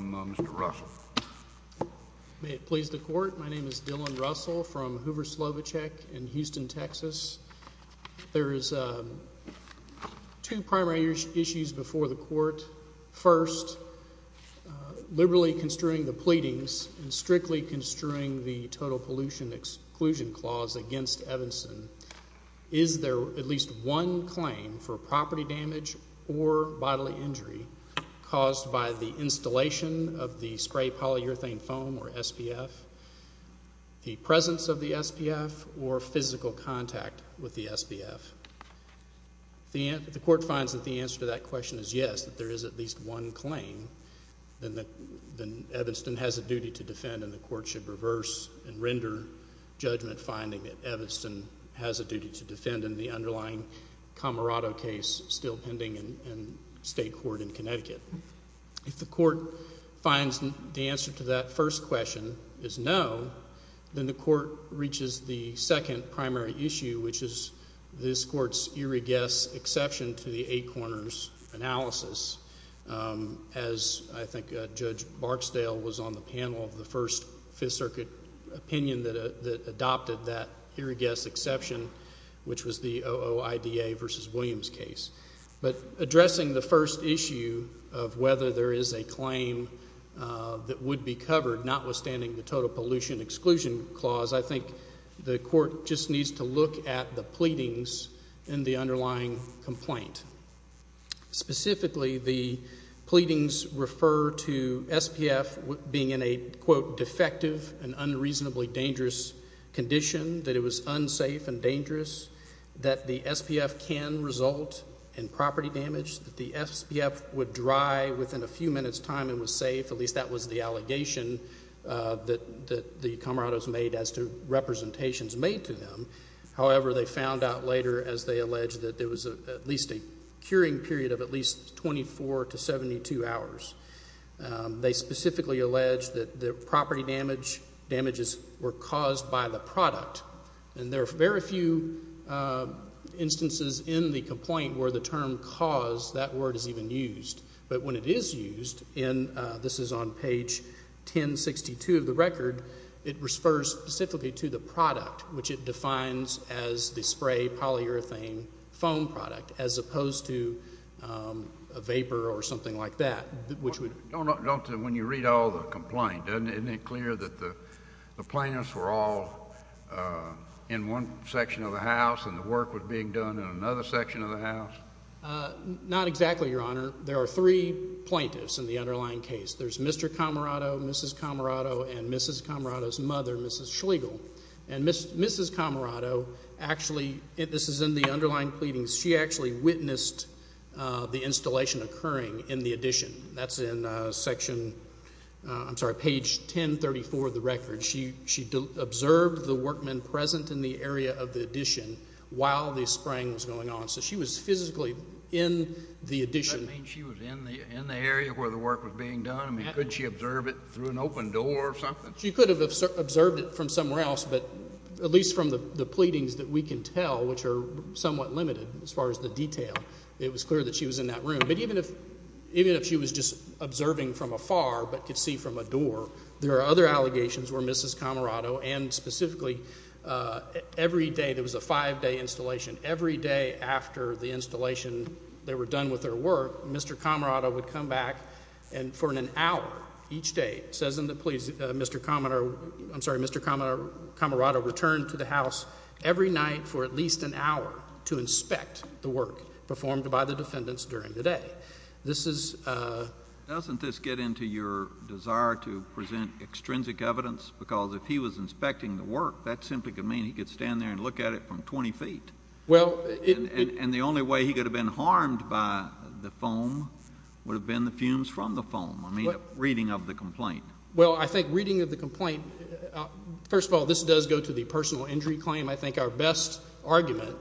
Mr. Russell. May it please the court, my name is Dylan Russell from Hoover Slovichek in Houston, Texas. There is two primary issues before the court. First, liberally construing the pleadings and strictly construing the total pollution exclusion clause against Evanston. Is there at least one claim for property damage or bodily injury caused by the installation of the spray polyurethane foam or SPF, the presence of the SPF, or physical contact with the SPF? The court finds that the answer to that question is yes, that there is at least one claim that Evanston has a duty to defend and the court should reverse and render judgment finding that Evanston has a duty to defend in the underlying Camarado case still pending in state court in Connecticut. If the court finds the answer to that first question is no, then the court reaches the second primary issue, which is this court's irreguious exception to the eight corners analysis. As I think Judge Barksdale was on the panel of the first Fifth Circuit opinion that adopted that irregious exception, which was the OOIDA v. Williams case. But addressing the first issue of whether there is a claim that would be covered, not withstanding the total pollution exclusion clause, I think the court just needs to look at the pleadings in the underlying complaint. Specifically, the pleadings refer to SPF being in a, quote, defective and unreasonably dangerous condition, that it was unsafe and dangerous, that the SPF can result in property damage, that the SPF would dry within a few minutes time and was safe. At least that was the allegation that the Camarados made as to representations made to them. However, they found out later, as they alleged, that there was at least a 24 to 72 hours. They specifically alleged that the property damage, damages were caused by the product. And there are very few instances in the complaint where the term cause, that word is even used. But when it is used, and this is on page 1062 of the record, it refers specifically to the product, which it defines as the spray polyurethane foam product, as that, which would Don't, when you read all the complaint, isn't it clear that the plaintiffs were all in one section of the house and the work was being done in another section of the house? Not exactly, Your Honor. There are three plaintiffs in the underlying case. There's Mr. Camarado, Mrs. Camarado, and Mrs. Camarado's mother, Mrs. Schlegel. And Mrs. Camarado actually, this is in the underlying pleadings, she actually witnessed the installation occurring in the addition. That's in section, I'm sorry, page 1034 of the record. She observed the workmen present in the area of the addition while the spraying was going on. So she was physically in the addition. Does that mean she was in the area where the work was being done? I mean, could she observe it through an open door or something? She could have observed it from somewhere else, but at least from the pleadings that we can tell, which are somewhat limited as far as the detail, it was clear that she was in that room. But even if she was just observing from afar but could see from a door, there are other allegations where Mrs. Camarado and specifically every day, there was a five-day installation, every day after the installation, they were done with their work, Mr. Camarado would come back and for an hour each day, it says in the pleadings, Mr. Camarado returned to the house every night for at least an hour to inspect the work performed by the defendants during the day. This is a Doesn't this get into your desire to present extrinsic evidence? Because if he was inspecting the work, that simply could mean he could stand there and look at it from 20 feet. Well And the only way he could have been harmed by the foam would have been the fumes from the foam. I mean, reading of the complaint. Well, I think reading of the complaint, first of all, this does go to the personal injury claim. I think our best argument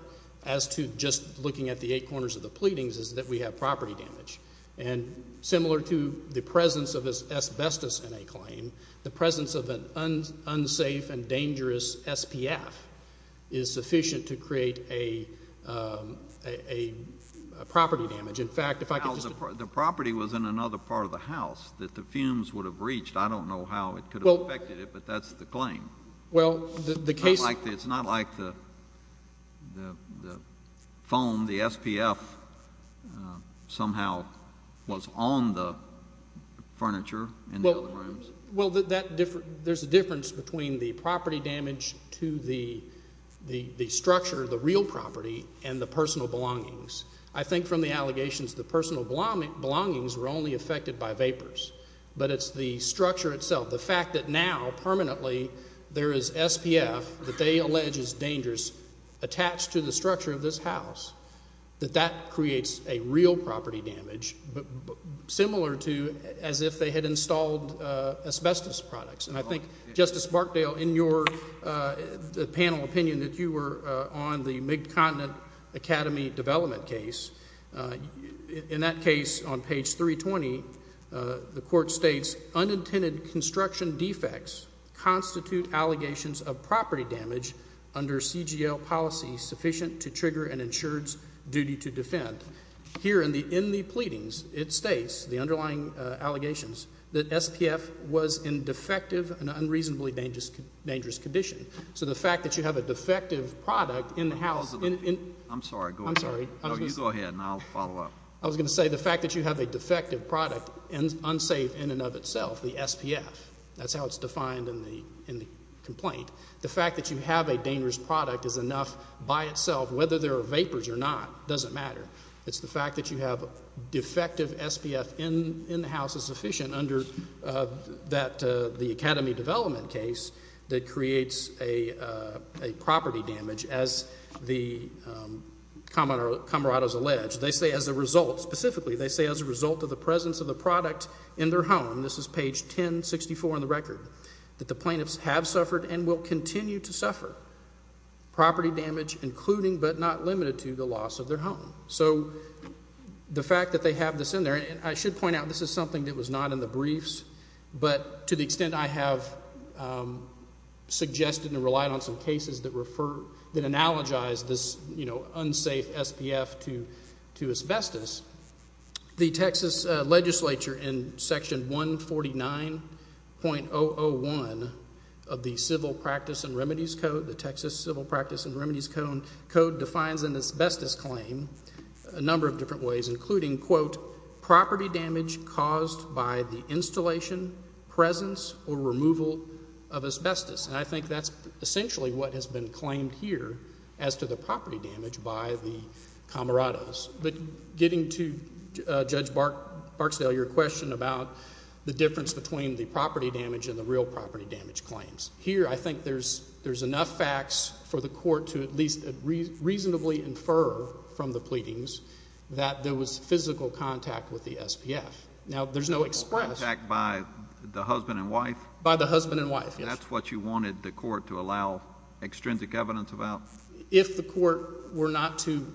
as to just looking at the eight corners of the pleadings is that we have property damage. And similar to the presence of asbestos in a claim, the presence of an unsafe and dangerous SPF is sufficient to create a property damage. In fact, if I could just The property was in another part of the house that the fumes would have reached. I don't know how it could have affected it, but that's the claim. Well, the case It's not like the foam, the SPF, somehow was on the furniture in the other rooms. Well, there's a difference between the property damage to the structure, the real property, and the personal belongings. I think from the allegations, the personal belongings were only affected by vapors. But it's the structure itself, the fact that now permanently there is SPF that they allege is dangerous attached to the structure of this house, that that creates a real property damage, similar to as if they had installed asbestos products. And I think, Justice Barkdale, in your panel opinion that you were on the Mid-Continent Academy development case, in that case on page 320, the Court states, unintended construction defects constitute allegations of property damage under CGL policy sufficient to trigger an insured's duty to defend. Here in the pleadings, it states, the underlying allegations, that you have an unreasonably dangerous condition. So the fact that you have a defective product in the house I'm sorry, go ahead. I'm sorry. No, you go ahead, and I'll follow up. I was going to say, the fact that you have a defective product, unsafe in and of itself, the SPF, that's how it's defined in the complaint. The fact that you have a dangerous product is enough by itself, whether there are vapors or not, doesn't matter. It's the fact that you have a defective SPF in the house is sufficient under the Academy development case that creates a property damage, as the Comrades allege. They say as a result, specifically, they say as a result of the presence of the product in their home, this is page 1064 in the record, that the plaintiffs have suffered and will continue to suffer property damage, including, but not limited to, the loss of their home. So the fact that they have this in there, and I should point out, this is something that was not in the briefs, but to the extent I have suggested and relied on some cases that refer, that analogize this, you know, unsafe SPF to asbestos, the Texas legislature in section 149.001 of the Civil Practice and Remedies Code defines an asbestos claim a number of different ways, including, quote, property damage caused by the installation, presence, or removal of asbestos. And I think that's essentially what has been claimed here as to the property damage by the Comrades. But getting to, Judge Barksdale, your question about the difference between the property damage and the real property damage claims. Here, I think there's enough facts for the court to at least reasonably infer from the pleadings that there was physical contact with the SPF. Now, there's no express. Contact by the husband and wife? By the husband and wife, yes. And that's what you wanted the court to allow extrinsic evidence about? If the court were not to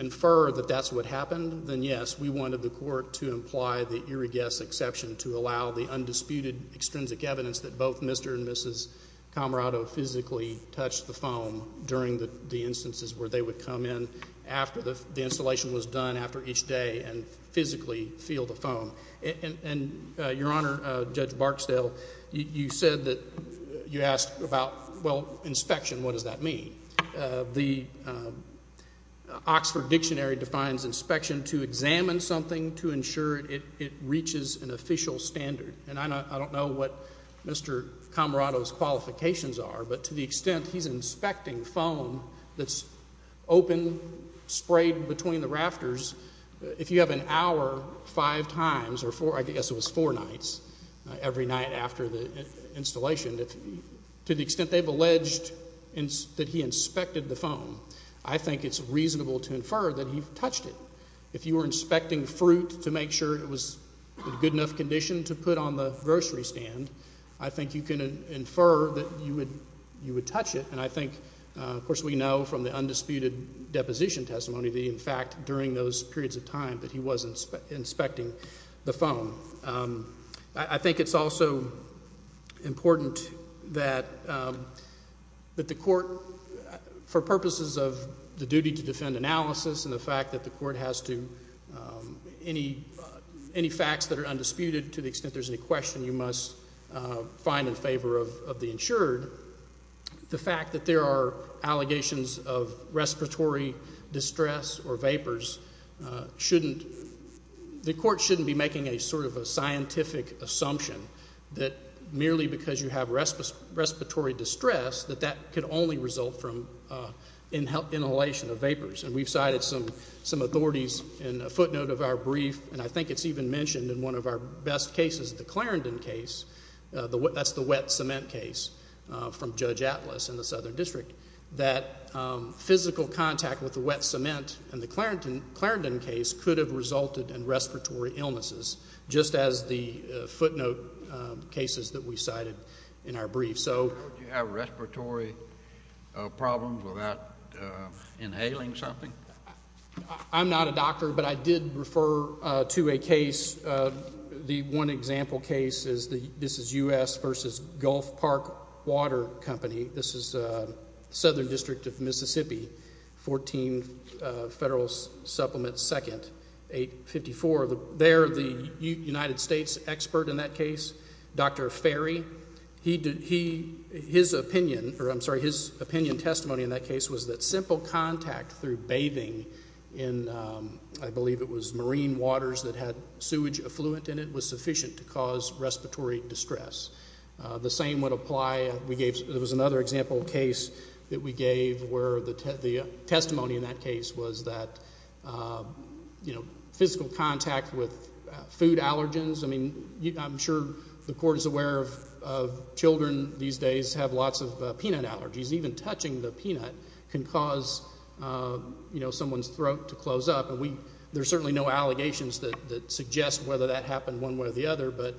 infer that that's what happened, then yes, we wanted the court to imply the irregular exception to allow the undisputed extrinsic evidence that both Mr. and Mrs. Comrado physically touched the foam during the instances where they would come in after the installation was done, after each day, and physically feel the foam. And Your Honor, Judge Barksdale, you said that you asked about, well, inspection, what does that mean? The Oxford Dictionary defines inspection to examine something to ensure it reaches an official standard. And I don't know what Mr. Comrado's qualifications are, but to the extent he's inspecting foam that's open, sprayed between the rafters, if you have an hour five times or four, I guess it was four nights, every night after the installation, to the extent they've alleged that he inspected the foam, I think it's reasonable to infer that he touched it. If you were inspecting fruit to make sure it was in good enough condition to put on the grocery stand, I think you can infer that you would touch it. And I think, of course, we know from the undisputed deposition testimony that, in fact, during those periods of time that he was inspecting the foam. I think it's also important that the court, for purposes of the duty to defend analysis and the fact that the court has to, any facts that are undisputed to the extent there's any question you must find in favor of the shouldn't, the court shouldn't be making a sort of a scientific assumption that merely because you have respiratory distress that that could only result from inhalation of vapors. And we've cited some authorities in a footnote of our brief, and I think it's even mentioned in one of our best cases, the Clarendon case, that's the wet cement case from Judge Atlas in the Southern District, that physical contact with the wet cement and the Clarendon case could have resulted in respiratory illnesses, just as the footnote cases that we cited in our brief. So would you have respiratory problems without inhaling something? I'm not a doctor, but I did refer to a case, the one example case is the, this is U.S. versus Gulf Park Water Company, this is Southern District of Mississippi, 14 Federal Supplement 2nd, 854, they're the United States expert in that case, Dr. Ferry, his opinion, or I'm sorry, his opinion testimony in that case was that simple contact through bathing in, I believe it was marine waters that had sewage affluent in it, was sufficient to cause respiratory distress. The same would apply, we gave, there was another example case that we gave where the testimony in that case was that physical contact with food allergens, I mean, I'm sure the Court is aware of children these days have lots of peanut allergies, even touching the peanut can cause someone's throat to close up, and we, there's certainly no allegations that suggest whether that happened one way or the other, but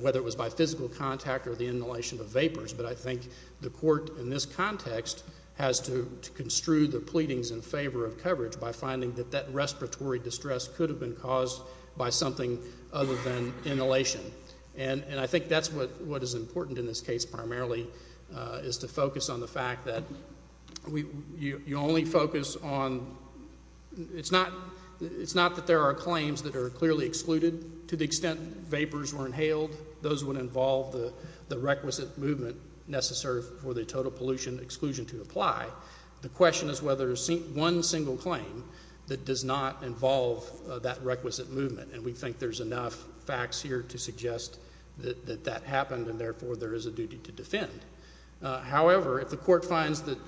whether it was by physical contact or the inhalation of vapors, but I think the Court in this context has to construe the pleadings in favor of coverage by finding that that respiratory distress could have been caused by something other than inhalation, and I think that's what is important in this case primarily, is to focus on the fact that you only focus on, it's not that there are claims that are clearly excluded to the extent vapors were inhaled, those would involve the requisite movement necessary for the total pollution exclusion to apply. The question is whether one single claim that does not involve that requisite movement, and we think there's enough facts here to suggest that that happened and therefore there is a duty to defend. However, if the Court finds that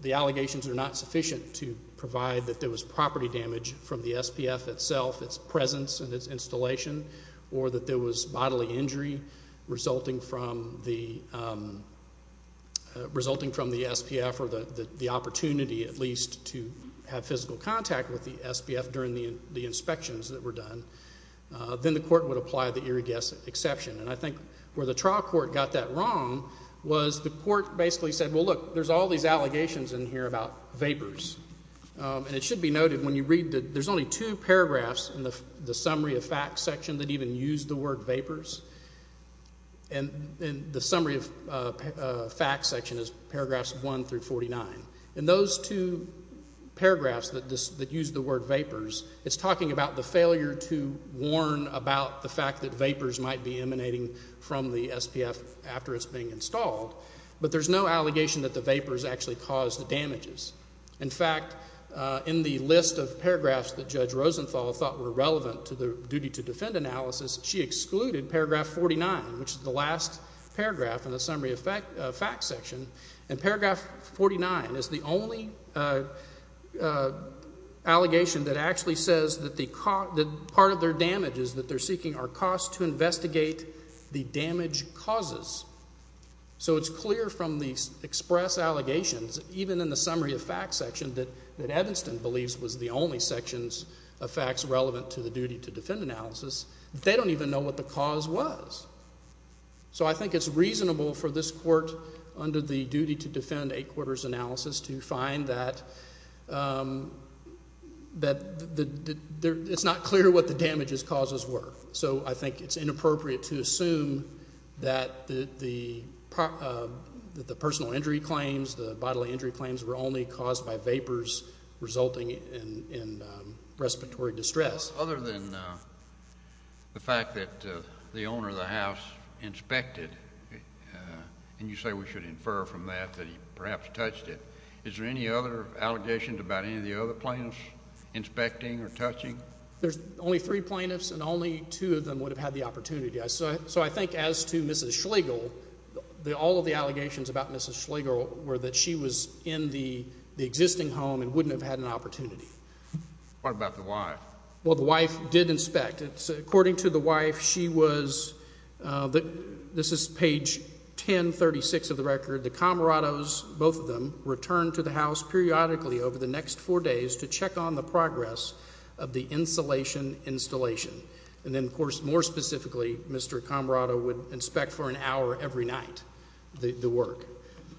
the allegations are not sufficient to provide that there was property damage from the SPF itself, its presence and its installation, or that there was bodily injury resulting from the SPF or the opportunity at least to have physical contact with the SPF during the inspections that were done, then the Court would apply the irrigation exception, and I think where the trial Court got that wrong was the Court basically said, well, look, there's all these allegations in here about vapors, and it should be noted when you read that there's only two paragraphs in the summary of facts section that even use the word vapors, and the summary of facts section is paragraphs 1 through 49. In those two paragraphs that use the word vapors, it's talking about the failure to warn about the fact that vapors might be emanating from the SPF after it's being installed, but there's no allegation that the vapors actually caused the damages. In fact, in the list of paragraphs that Judge Rosenthal thought were relevant to the duty to defend analysis, she excluded paragraph 49, which is the last paragraph in the summary of facts section, and paragraph 49 is the only allegation that actually says that part of their damage is that they're seeking our costs to investigate the damage causes. So it's clear from these express allegations, even in the summary of facts section that Evanston believes was the only sections of facts relevant to the duty to defend analysis, they don't even know what the cause was. So I think it's reasonable for this Court under the duty to defend eight quarters analysis to find that it's not clear what the damages causes were. So I think it's inappropriate to assume that the personal injury claims, the bodily injury claims were only caused by vapors resulting in respiratory distress. Other than the fact that the owner of the house inspected, and you say we should infer from that that he perhaps touched it, is there any other allegations about any of the other plaintiffs inspecting or touching? There's only three plaintiffs, and only two of them would have had the opportunity. So I think as to Mrs. Schlegel, all of the allegations about Mrs. Schlegel were that she was in the existing home and wouldn't have had an opportunity. What about the wife? Well, the wife did inspect. According to the wife, she was, this is page 1036 of the record, the Comrados, both of them, returned to the house periodically over the next four days to check on the progress of the insulation installation. And then, of course, more specifically, Mr. Comrado would inspect for an hour every night the work.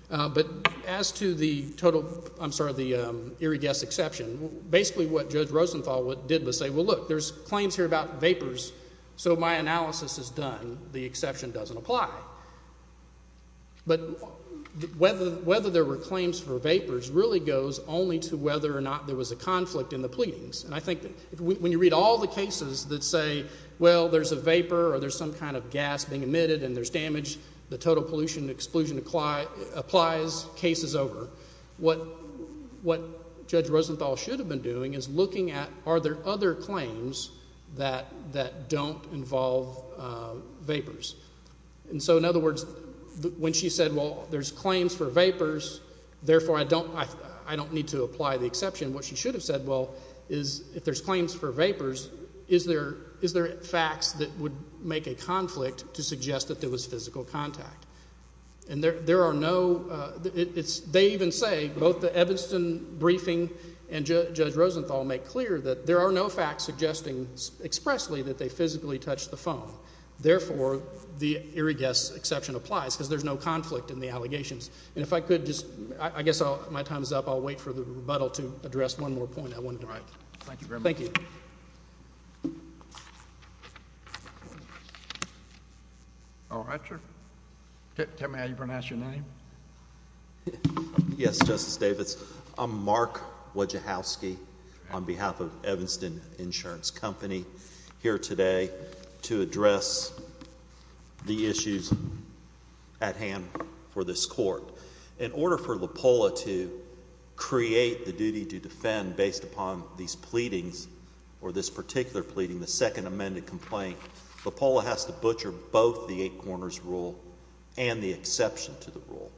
But as to the total, I'm sorry, the irregular exception, basically what Judge Rosenthal did was say, well, look, there's claims here about vapors, so my analysis is done. The exception doesn't apply. But whether there were claims for vapors really goes only to whether or not there was a conflict in the pleadings. And I think that when you read all the cases that say, well, there's a vapor or there's some kind of gas being emitted and there's damage, the total pollution exclusion applies, case is over. What Judge Rosenthal should have been doing is looking at are there other claims that don't involve vapors. And so, in other words, when she said, well, there's claims for vapors, therefore I don't need to apply the exception, what she should have said, well, is if there's claims for vapors, is there facts that would make a conflict to suggest that there was physical contact? And there are no, it's, they even say, both the Evanston briefing and Judge Rosenthal make clear that there are no facts suggesting expressly that they physically touched the phone. Therefore, the irregular exception applies, because there's no conflict in the allegations. And if I could just, I guess my time is up, I'll wait for the rebuttal to address one more point I want Thank you very much. Thank you. All right, sir. Tell me how you're going to ask your name? Yes, Justice Davis. I'm Mark Wojciechowski on behalf of Evanston Insurance Company here today to address the issues at hand for this court. In order for LAPOLA to create the duty to defend based upon these pleadings, or this particular pleading, the second amended complaint, LAPOLA has to butcher both the eight corners rule and the exception to the rule.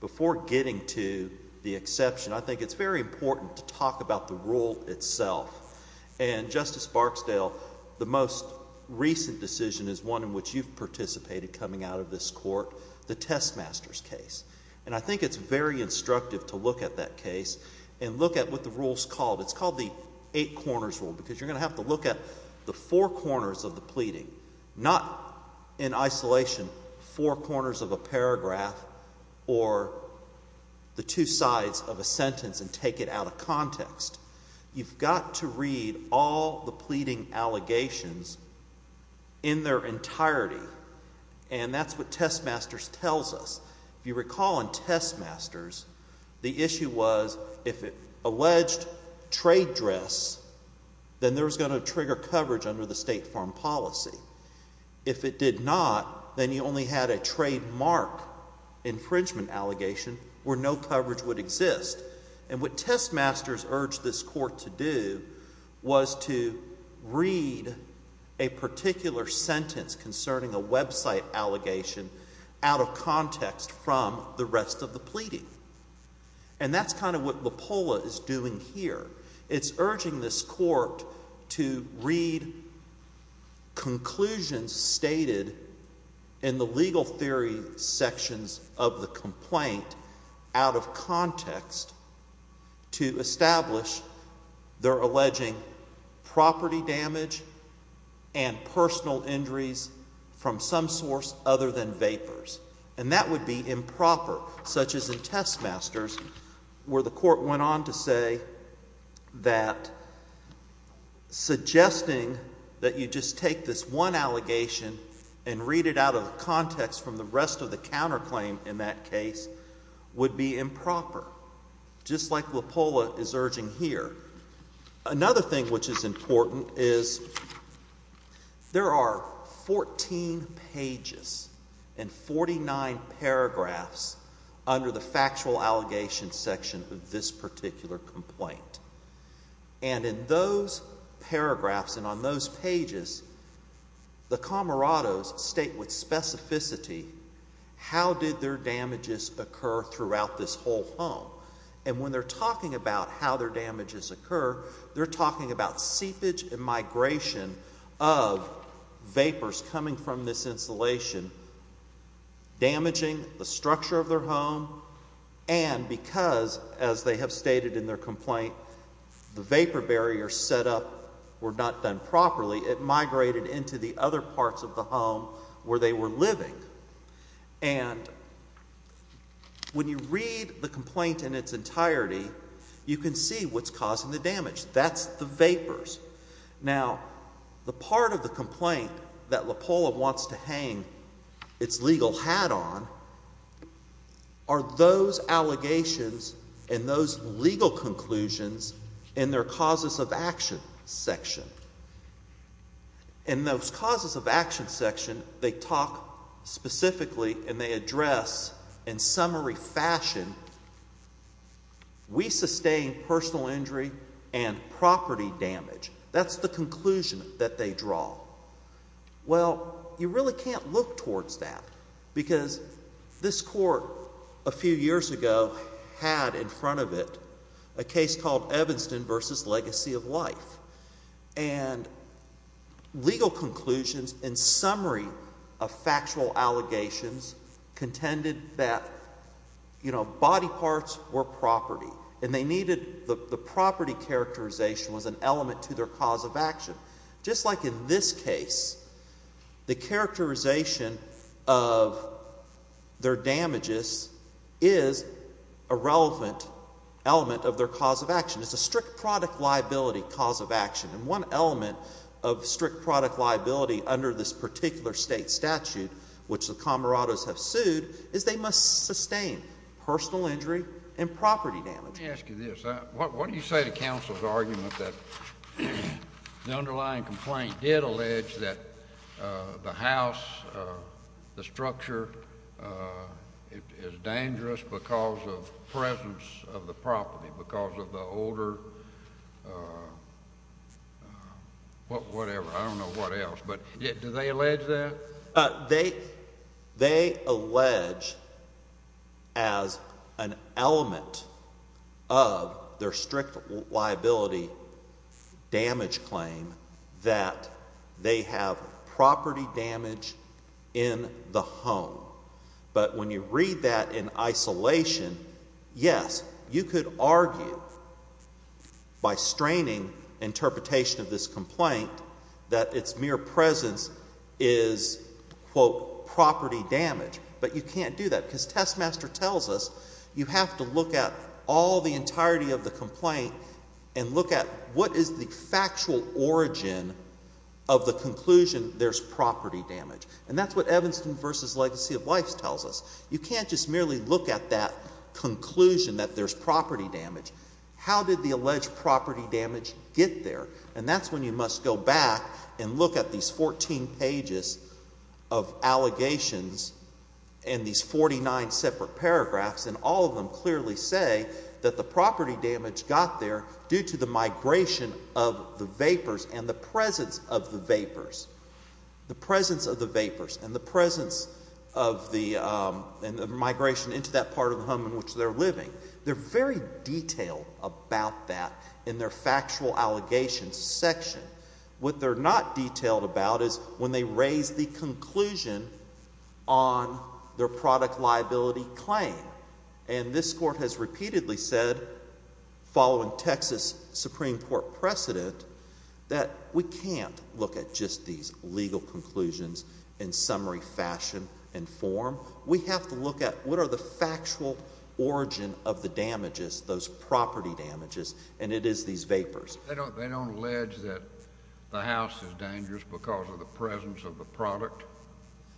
Before getting to the exception, I think it's very important to talk about the rule itself. And Justice Barksdale, the most recent decision is one in which you've participated coming out of this court, the Testmasters case. And I think it's very instructive to look at that case and look at what the rule's called. It's called the eight corners rule, because you're going to have to look at the four corners of the pleading, not in isolation, four corners of a paragraph or the two sides of a sentence and take it out of context. You've got to read all the pleading allegations in their entirety. And that's what Testmasters did. The issue was if it alleged trade dress, then there was going to trigger coverage under the State Farm Policy. If it did not, then you only had a trademark infringement allegation where no coverage would exist. And what Testmasters urged this court to do was to read a particular sentence concerning a website allegation out of context from the rest of the pleading. And that's kind of what Lepola is doing here. It's urging this court to read conclusions stated in the legal theory sections of the complaint out of context to establish their injuries from some source other than vapors. And that would be improper, such as in Testmasters, where the court went on to say that suggesting that you just take this one allegation and read it out of context from the rest of the counterclaim in that case would be improper, just like Lepola is urging here. Another thing which is important is there are 14 pages and 49 paragraphs under the factual allegation section of this particular complaint. And in those paragraphs and on those pages, the comrados state with specificity how did their damages occur throughout this whole home. And when they're talking about how their damages occur, they're talking about seepage and migration of vapors coming from this insulation damaging the structure of their home and because, as they have stated in their complaint, the vapor barriers set up were not done properly, it migrated into the other parts of the home where they were living. And when you read the complaint in its entirety, you can see what's causing the damage. That's the vapors. Now the part of the complaint that Lepola wants to hang its legal hat on are those allegations and those legal conclusions in their causes of action section. In those causes of action section, they talk specifically and they address in summary fashion, we sustain personal injury and property damage. That's the conclusion that they draw. Well, you really can't look towards that because this court a few years ago had in front of it a case called Evanston v. Legacy of Life. And legal conclusions in summary of factual allegations contended that, you know, body parts were property and they needed the property characterization was an element to their cause of action. Just like in this case, the characterization of their product liability cause of action. And one element of strict product liability under this particular state statute, which the Comorados have sued, is they must sustain personal injury and property damage. Let me ask you this. What do you say to counsel's argument that the underlying complaint did allege that the house, the structure is dangerous because of presence of the property, because of the odor, whatever. I don't know what else. But do they allege that? They allege as an element of their strict liability damage claim that they have property damage in the home. But when you read that in isolation, yes, you could argue that the court, by straining interpretation of this complaint, that its mere presence is, quote, property damage. But you can't do that because Testmaster tells us you have to look at all the entirety of the complaint and look at what is the factual origin of the conclusion there's property damage. And that's what Evanston v. Legacy of Life tells us. You can't just clearly look at that conclusion that there's property damage. How did the alleged property damage get there? And that's when you must go back and look at these 14 pages of allegations in these 49 separate paragraphs, and all of them clearly say that the property damage got there due to the migration of the vapors and the presence of the vapors. The presence of the vapors and the presence of the migration into that part of the home in which they're living. They're very detailed about that in their factual allegations section. What they're not detailed about is when they raise the conclusion on their product liability claim. And this court has repeatedly said, following Texas Supreme Court precedent, that we can't look at just these legal conclusions in summary, fashion, and form. We have to look at what are the factual origin of the damages, those property damages, and it is these vapors. They don't allege that the house is dangerous because of the presence of the product?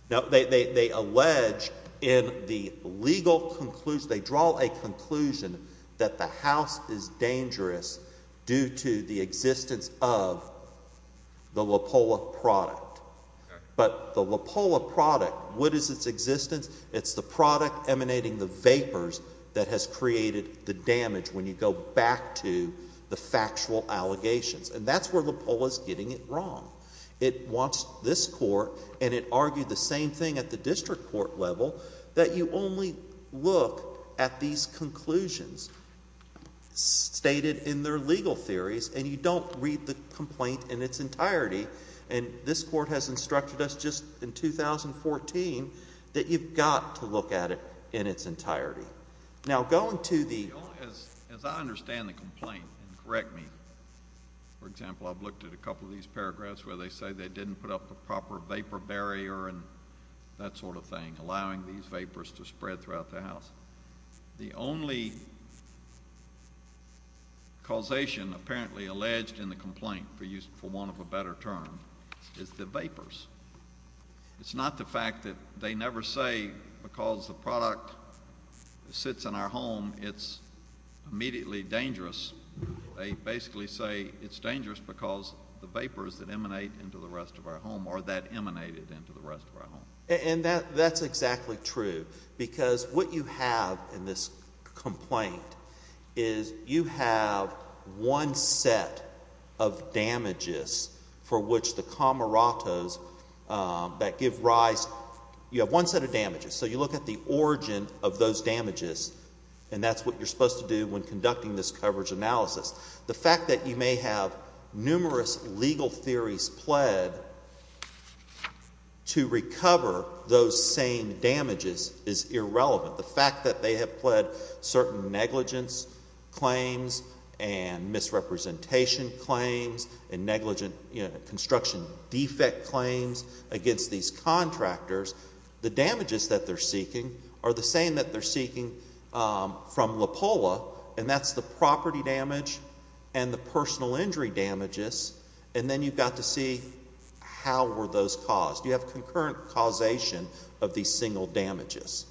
No, they allege in the legal conclusion, they draw a conclusion that the house is dangerous due to the existence of the LaPolla product. But the LaPolla product, what is its existence? It's the product emanating the vapors that has created the damage when you go back to the factual allegations. And that's where LaPolla is getting it wrong. It wants this court, and it argued the same thing at the district court level, that you only look at these conclusions stated in their legal theories, and you don't read the complaint in its entirety. And this court has instructed us just in 2014 that you've got to look at it in its entirety. Now going to the? As I understand the complaint, and correct me, for example, I've looked at a couple of these paragraphs where they say they didn't put up a proper vapor barrier and that sort of thing, allowing these vapors to spread throughout the house. The only causation apparently alleged in the complaint, for want of a better term, is the vapors. It's not the fact that they never say because the product sits in our home, it's immediately dangerous. They basically say it's dangerous because the vapors that emanate into the rest of our home are dangerous. And that's exactly true. Because what you have in this complaint is you have one set of damages for which the comoratos that give rise, you have one set of damages. So you look at the origin of those damages, and that's what you're supposed to do when conducting this coverage analysis. The fact that you may have numerous legal theories pled to recover those same damages is irrelevant. The fact that they have pled certain negligence claims and misrepresentation claims and construction defect claims against these contractors, the damages that they're seeking are the same that they're seeking from LAPOLA, and that's the property damage and the personal injury damages, and then you've got to see how were those caused. You have concurrent causation of these single damages.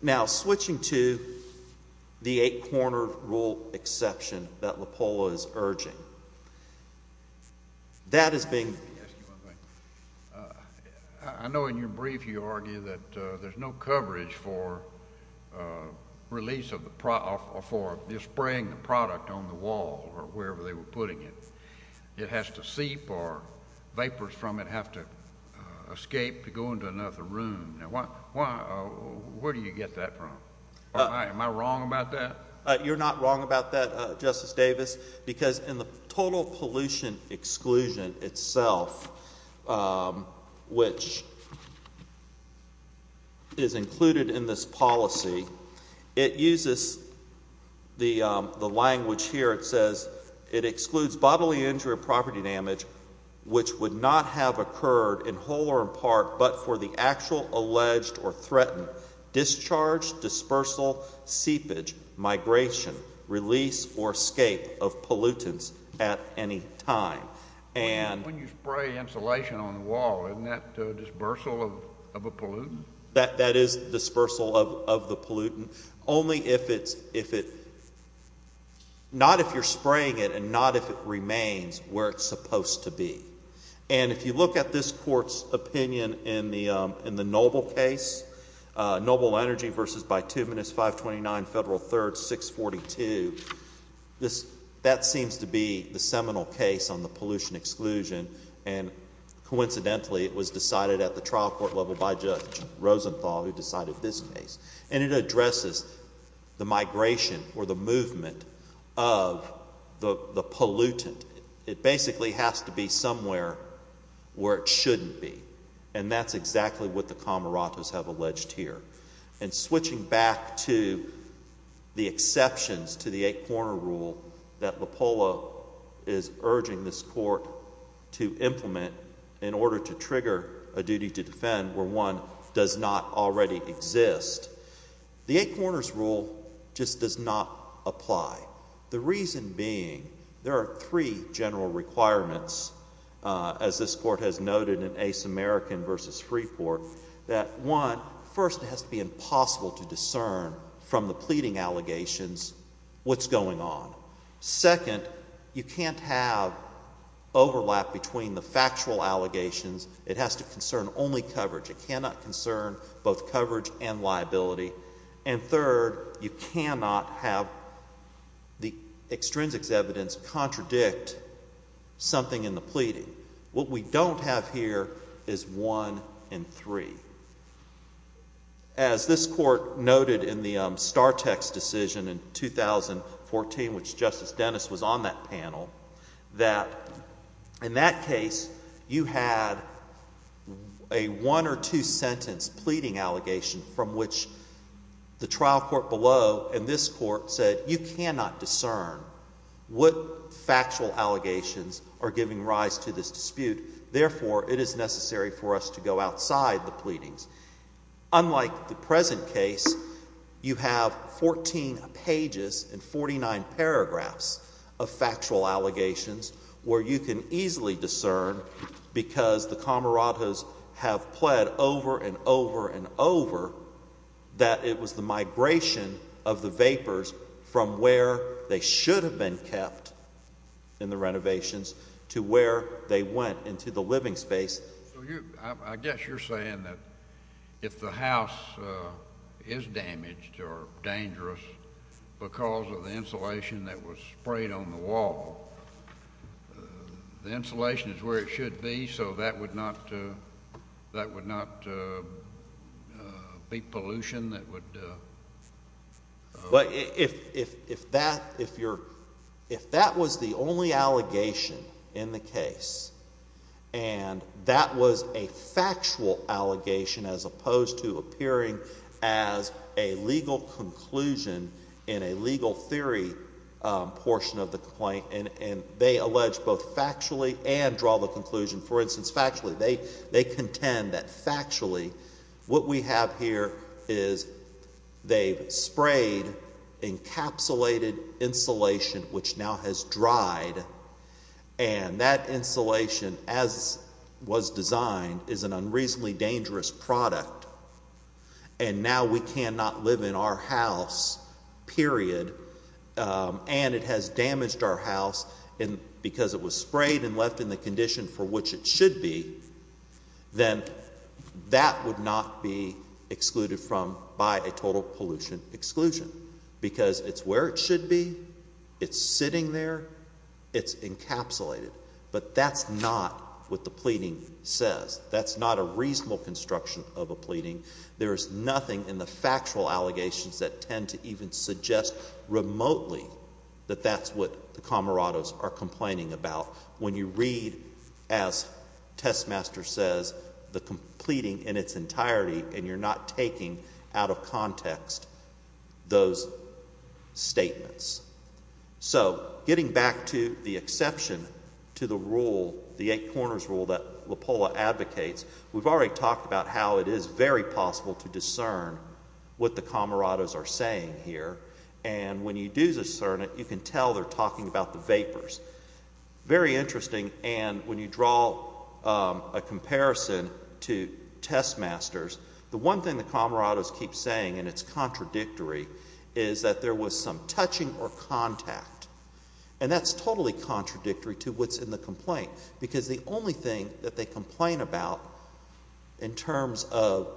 Now switching to the eight corner rule exception that LAPOLA is urging. That is being... I know in your brief you argue that there's no coverage for release of the...for spraying the product on the wall or wherever they were putting it. It has to seep or vapors from it might have to escape to go into another room. Where do you get that from? Am I wrong about that? You're not wrong about that, Justice Davis, because in the total pollution exclusion itself, which is included in this policy, it uses the language here. It says it excludes bodily injury and property damage which would not have occurred in whole or in part but for the actual alleged or threatened discharge, dispersal, seepage, migration, release, or escape of pollutants at any time. When you spray insulation on the wall, isn't that dispersal of a pollutant? That is dispersal of the pollutant. Only if it's...not if you're spraying it and not if it remains where it's supposed to be. And if you look at this Court's opinion in the Noble case, Noble Energy v. Bituminous 529 Federal 3rd 642, that seems to be the seminal case on the pollution exclusion and coincidentally it was decided at the trial court level by Judge Rosenthal who decided this case. And it addresses the migration or the movement of the pollutant. It basically has to be somewhere where it shouldn't be. And that's exactly what the Cameratos have alleged here. And switching back to the exceptions to the Eight Corners Rule that Lopolo is urging this Court to implement in order to trigger a duty to defend where one does not already exist. The Eight Corners Rule just does not apply. The reason being there are three general requirements as this Court has noted in Ace American v. Freeport that one, first it has to be impossible to discern from the pleading allegations what's going on. Second, you can't have overlap between the factual allegations. It has to concern only coverage. It cannot concern both coverage and liability. And third, you cannot have the extrinsic evidence contradict something in the pleading. What we don't have here is one in three. As this Court noted in the Star-Tex decision in 2014, which Justice Dennis was on that panel, that in that case you had a one or two sentence pleading allegation from the trial court below and this Court said you cannot discern what factual allegations are giving rise to this dispute. Therefore, it is necessary for us to go outside the pleadings. Unlike the present case, you have 14 pages and 49 paragraphs of factual allegations where you can easily discern because the camaradas have pled over and over and over that it was the migration of the vapors from where they should have been kept in the renovations to where they went into the living space. I guess you're saying that if the house is damaged or dangerous because of the insulation that was sprayed on the wall, the insulation is where it should be so that would not be pollution that would? If that was the only allegation in the case and that was a factual allegation as opposed to appearing as a legal conclusion in a legal theory portion of the complaint and they allege both factually and draw the conclusion. For instance, factually, they contend that factually what we have here is they've sprayed encapsulated insulation which now has dried and that insulation as was designed is an unreasonably dangerous product and now we cannot live in our house period and it has damaged our house because it was sprayed and left in the condition for which it should be, then that would not be excluded from by a total pollution exclusion because it's where it should be, it's sitting there, it's encapsulated. But that's not what the pleading says. That's not a reasonable construction of a pleading. There is nothing in the factual allegations that tend to even suggest remotely that that's what the comrades are complaining about. When you read as Test Master says, the pleading in its entirety and you're not taking out of context those statements. So, getting back to the exception to the rule, the eight corners rule that LaPolla advocates, we've already talked about how it is very possible to discern what the comrades are saying here and when you do discern it, you can tell they're talking about the vapors. Very interesting and when you draw a comparison to Test Masters, the one thing the comrades keep saying and it's contradictory is that there was some touching or contact and that's totally contradictory to what's in the complaint because the only thing that they complain about in terms of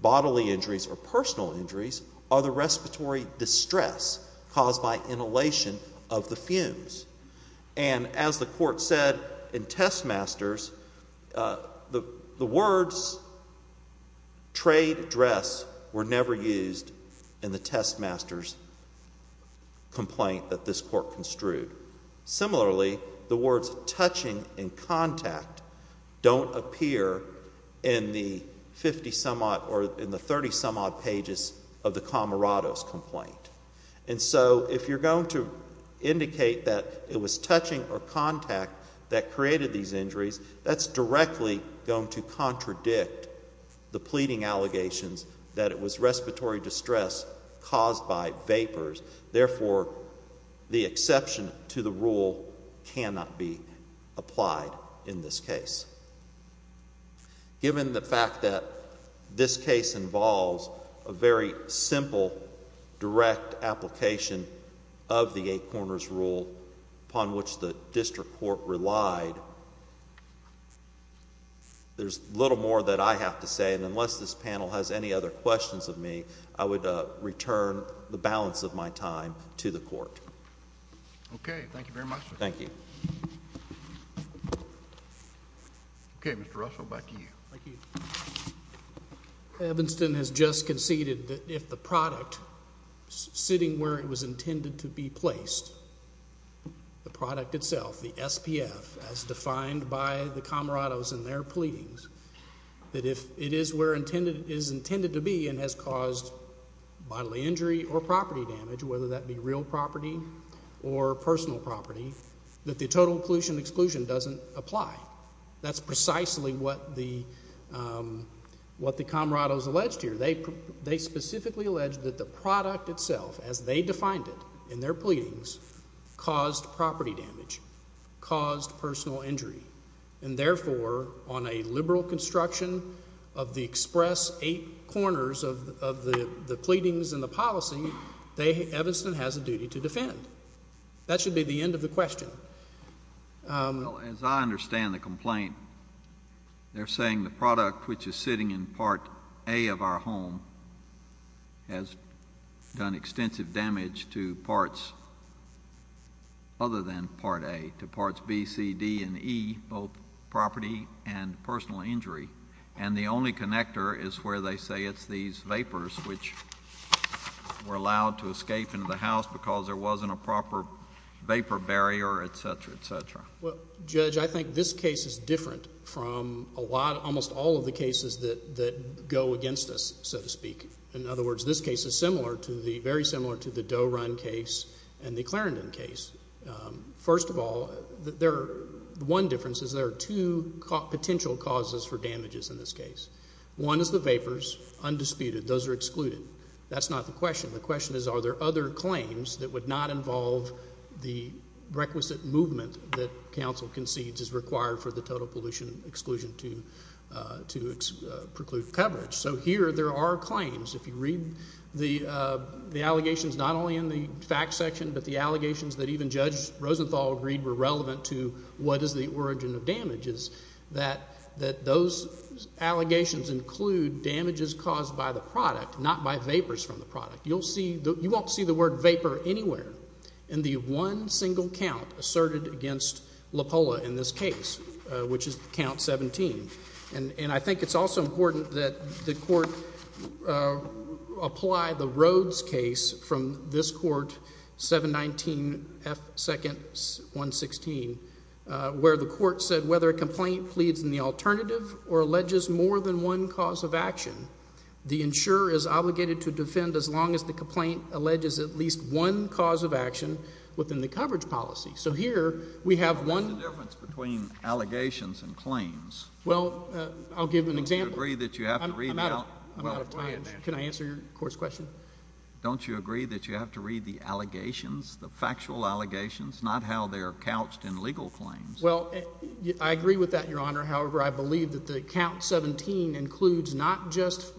bodily injuries or personal injuries are the respiratory distress caused by inhalation of the fumes and as the court said in Test Masters, the words trade dress were never used in the Test Masters complaint that this court construed. Similarly, the words touching and contact don't appear in the 50 some odd or in the 30 some odd pages of the comrades complaint. And so, if you're going to indicate that it was touching or contact that created these injuries, that's directly going to contradict the pleading allegations that it was respiratory distress caused by vapors. Therefore, the exception to the rule cannot be applied in this case. Given the fact that this case involves a very simple, direct application of the complaint of the Eight Corners Rule upon which the district court relied, there's little more that I have to say and unless this panel has any other questions of me, I would return the balance of my time to the court. Okay, thank you very much. Thank you. Okay, Mr. Russell, back to you. Thank you. Evanston has just conceded that if the product sitting where it was intended to be placed, the product itself, the SPF, as defined by the comrades in their pleadings, that if it is where it is intended to be and has caused bodily injury or property damage, whether that be real property or personal property, that the total inclusion exclusion doesn't apply. That's precisely what the comrades alleged here. They specifically alleged that the product itself, as they defined it in their pleadings, caused property damage, caused personal injury, and therefore, on a liberal construction of the express Eight Corners of the pleadings and the policy, Evanston has a duty to defend. That should be the end of the question. As I understand the complaint, they're saying the product which is sitting in Part A of our home has done extensive damage to parts other than Part A, to Parts B, C, D, and E, both property and personal injury, and the only connector is where they say it's these vapors which were allowed to escape into the house because there wasn't a proper vapor barrier, et cetera, et cetera. Well, Judge, I think this case is different from a lot, almost all of the cases that go against us, so to speak. In other words, this case is similar to the, very similar to the Doe Run case and the Clarendon case. First of all, the one difference is there are two potential causes for damages in this case. One is the vapors, undisputed. Those are excluded. That's not the question. The question is are there other claims that would not involve the requisite movement that counsel concedes is required for the total pollution exclusion to preclude coverage. So here there are claims. If you read the allegations, not only in the fact section, but the allegations that even Judge Rosenthal agreed were relevant to what is the origin of damages, that those allegations include damages caused by the product, not by vapors from the product. You won't see the word vapor anywhere in the one single count asserted against LaPolla in this case, which is count 17. And I think it's also important that the Court apply the Rhodes case from this Court, 719 F. 2nd. 116, where the Court said whether a complaint pleads in the alternative or alleges more than one cause of action, the insurer is obligated to defend as long as the complaint alleges at least one cause of action within the coverage policy. So here we have one— But what's the difference between allegations and claims? Well, I'll give an example. Don't you agree that you have to read the— I'm out of time. Can I answer your Court's question? Don't you agree that you have to read the allegations, the factual allegations, not how they are couched in legal claims? Well, I agree with that, Your Honor. However, I believe that the count 17 includes not just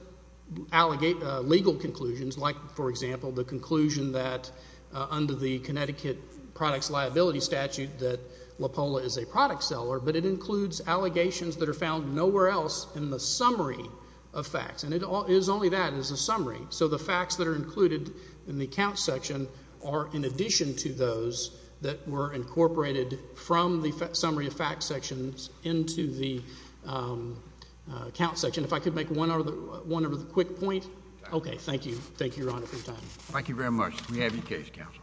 legal conclusions, like, for example, the conclusion that under the Connecticut Products Liability Statute that LaPolla is a product seller, but it includes allegations that are found nowhere else in the summary of facts. And it is only that as a summary. So the facts that are included in the count section are in addition to those that were incorporated from the summary of facts sections into the count section. If I could make one other quick point. Okay. Thank you. Thank you, Your Honor, for your time. Thank you very much. We have your case, Counsel.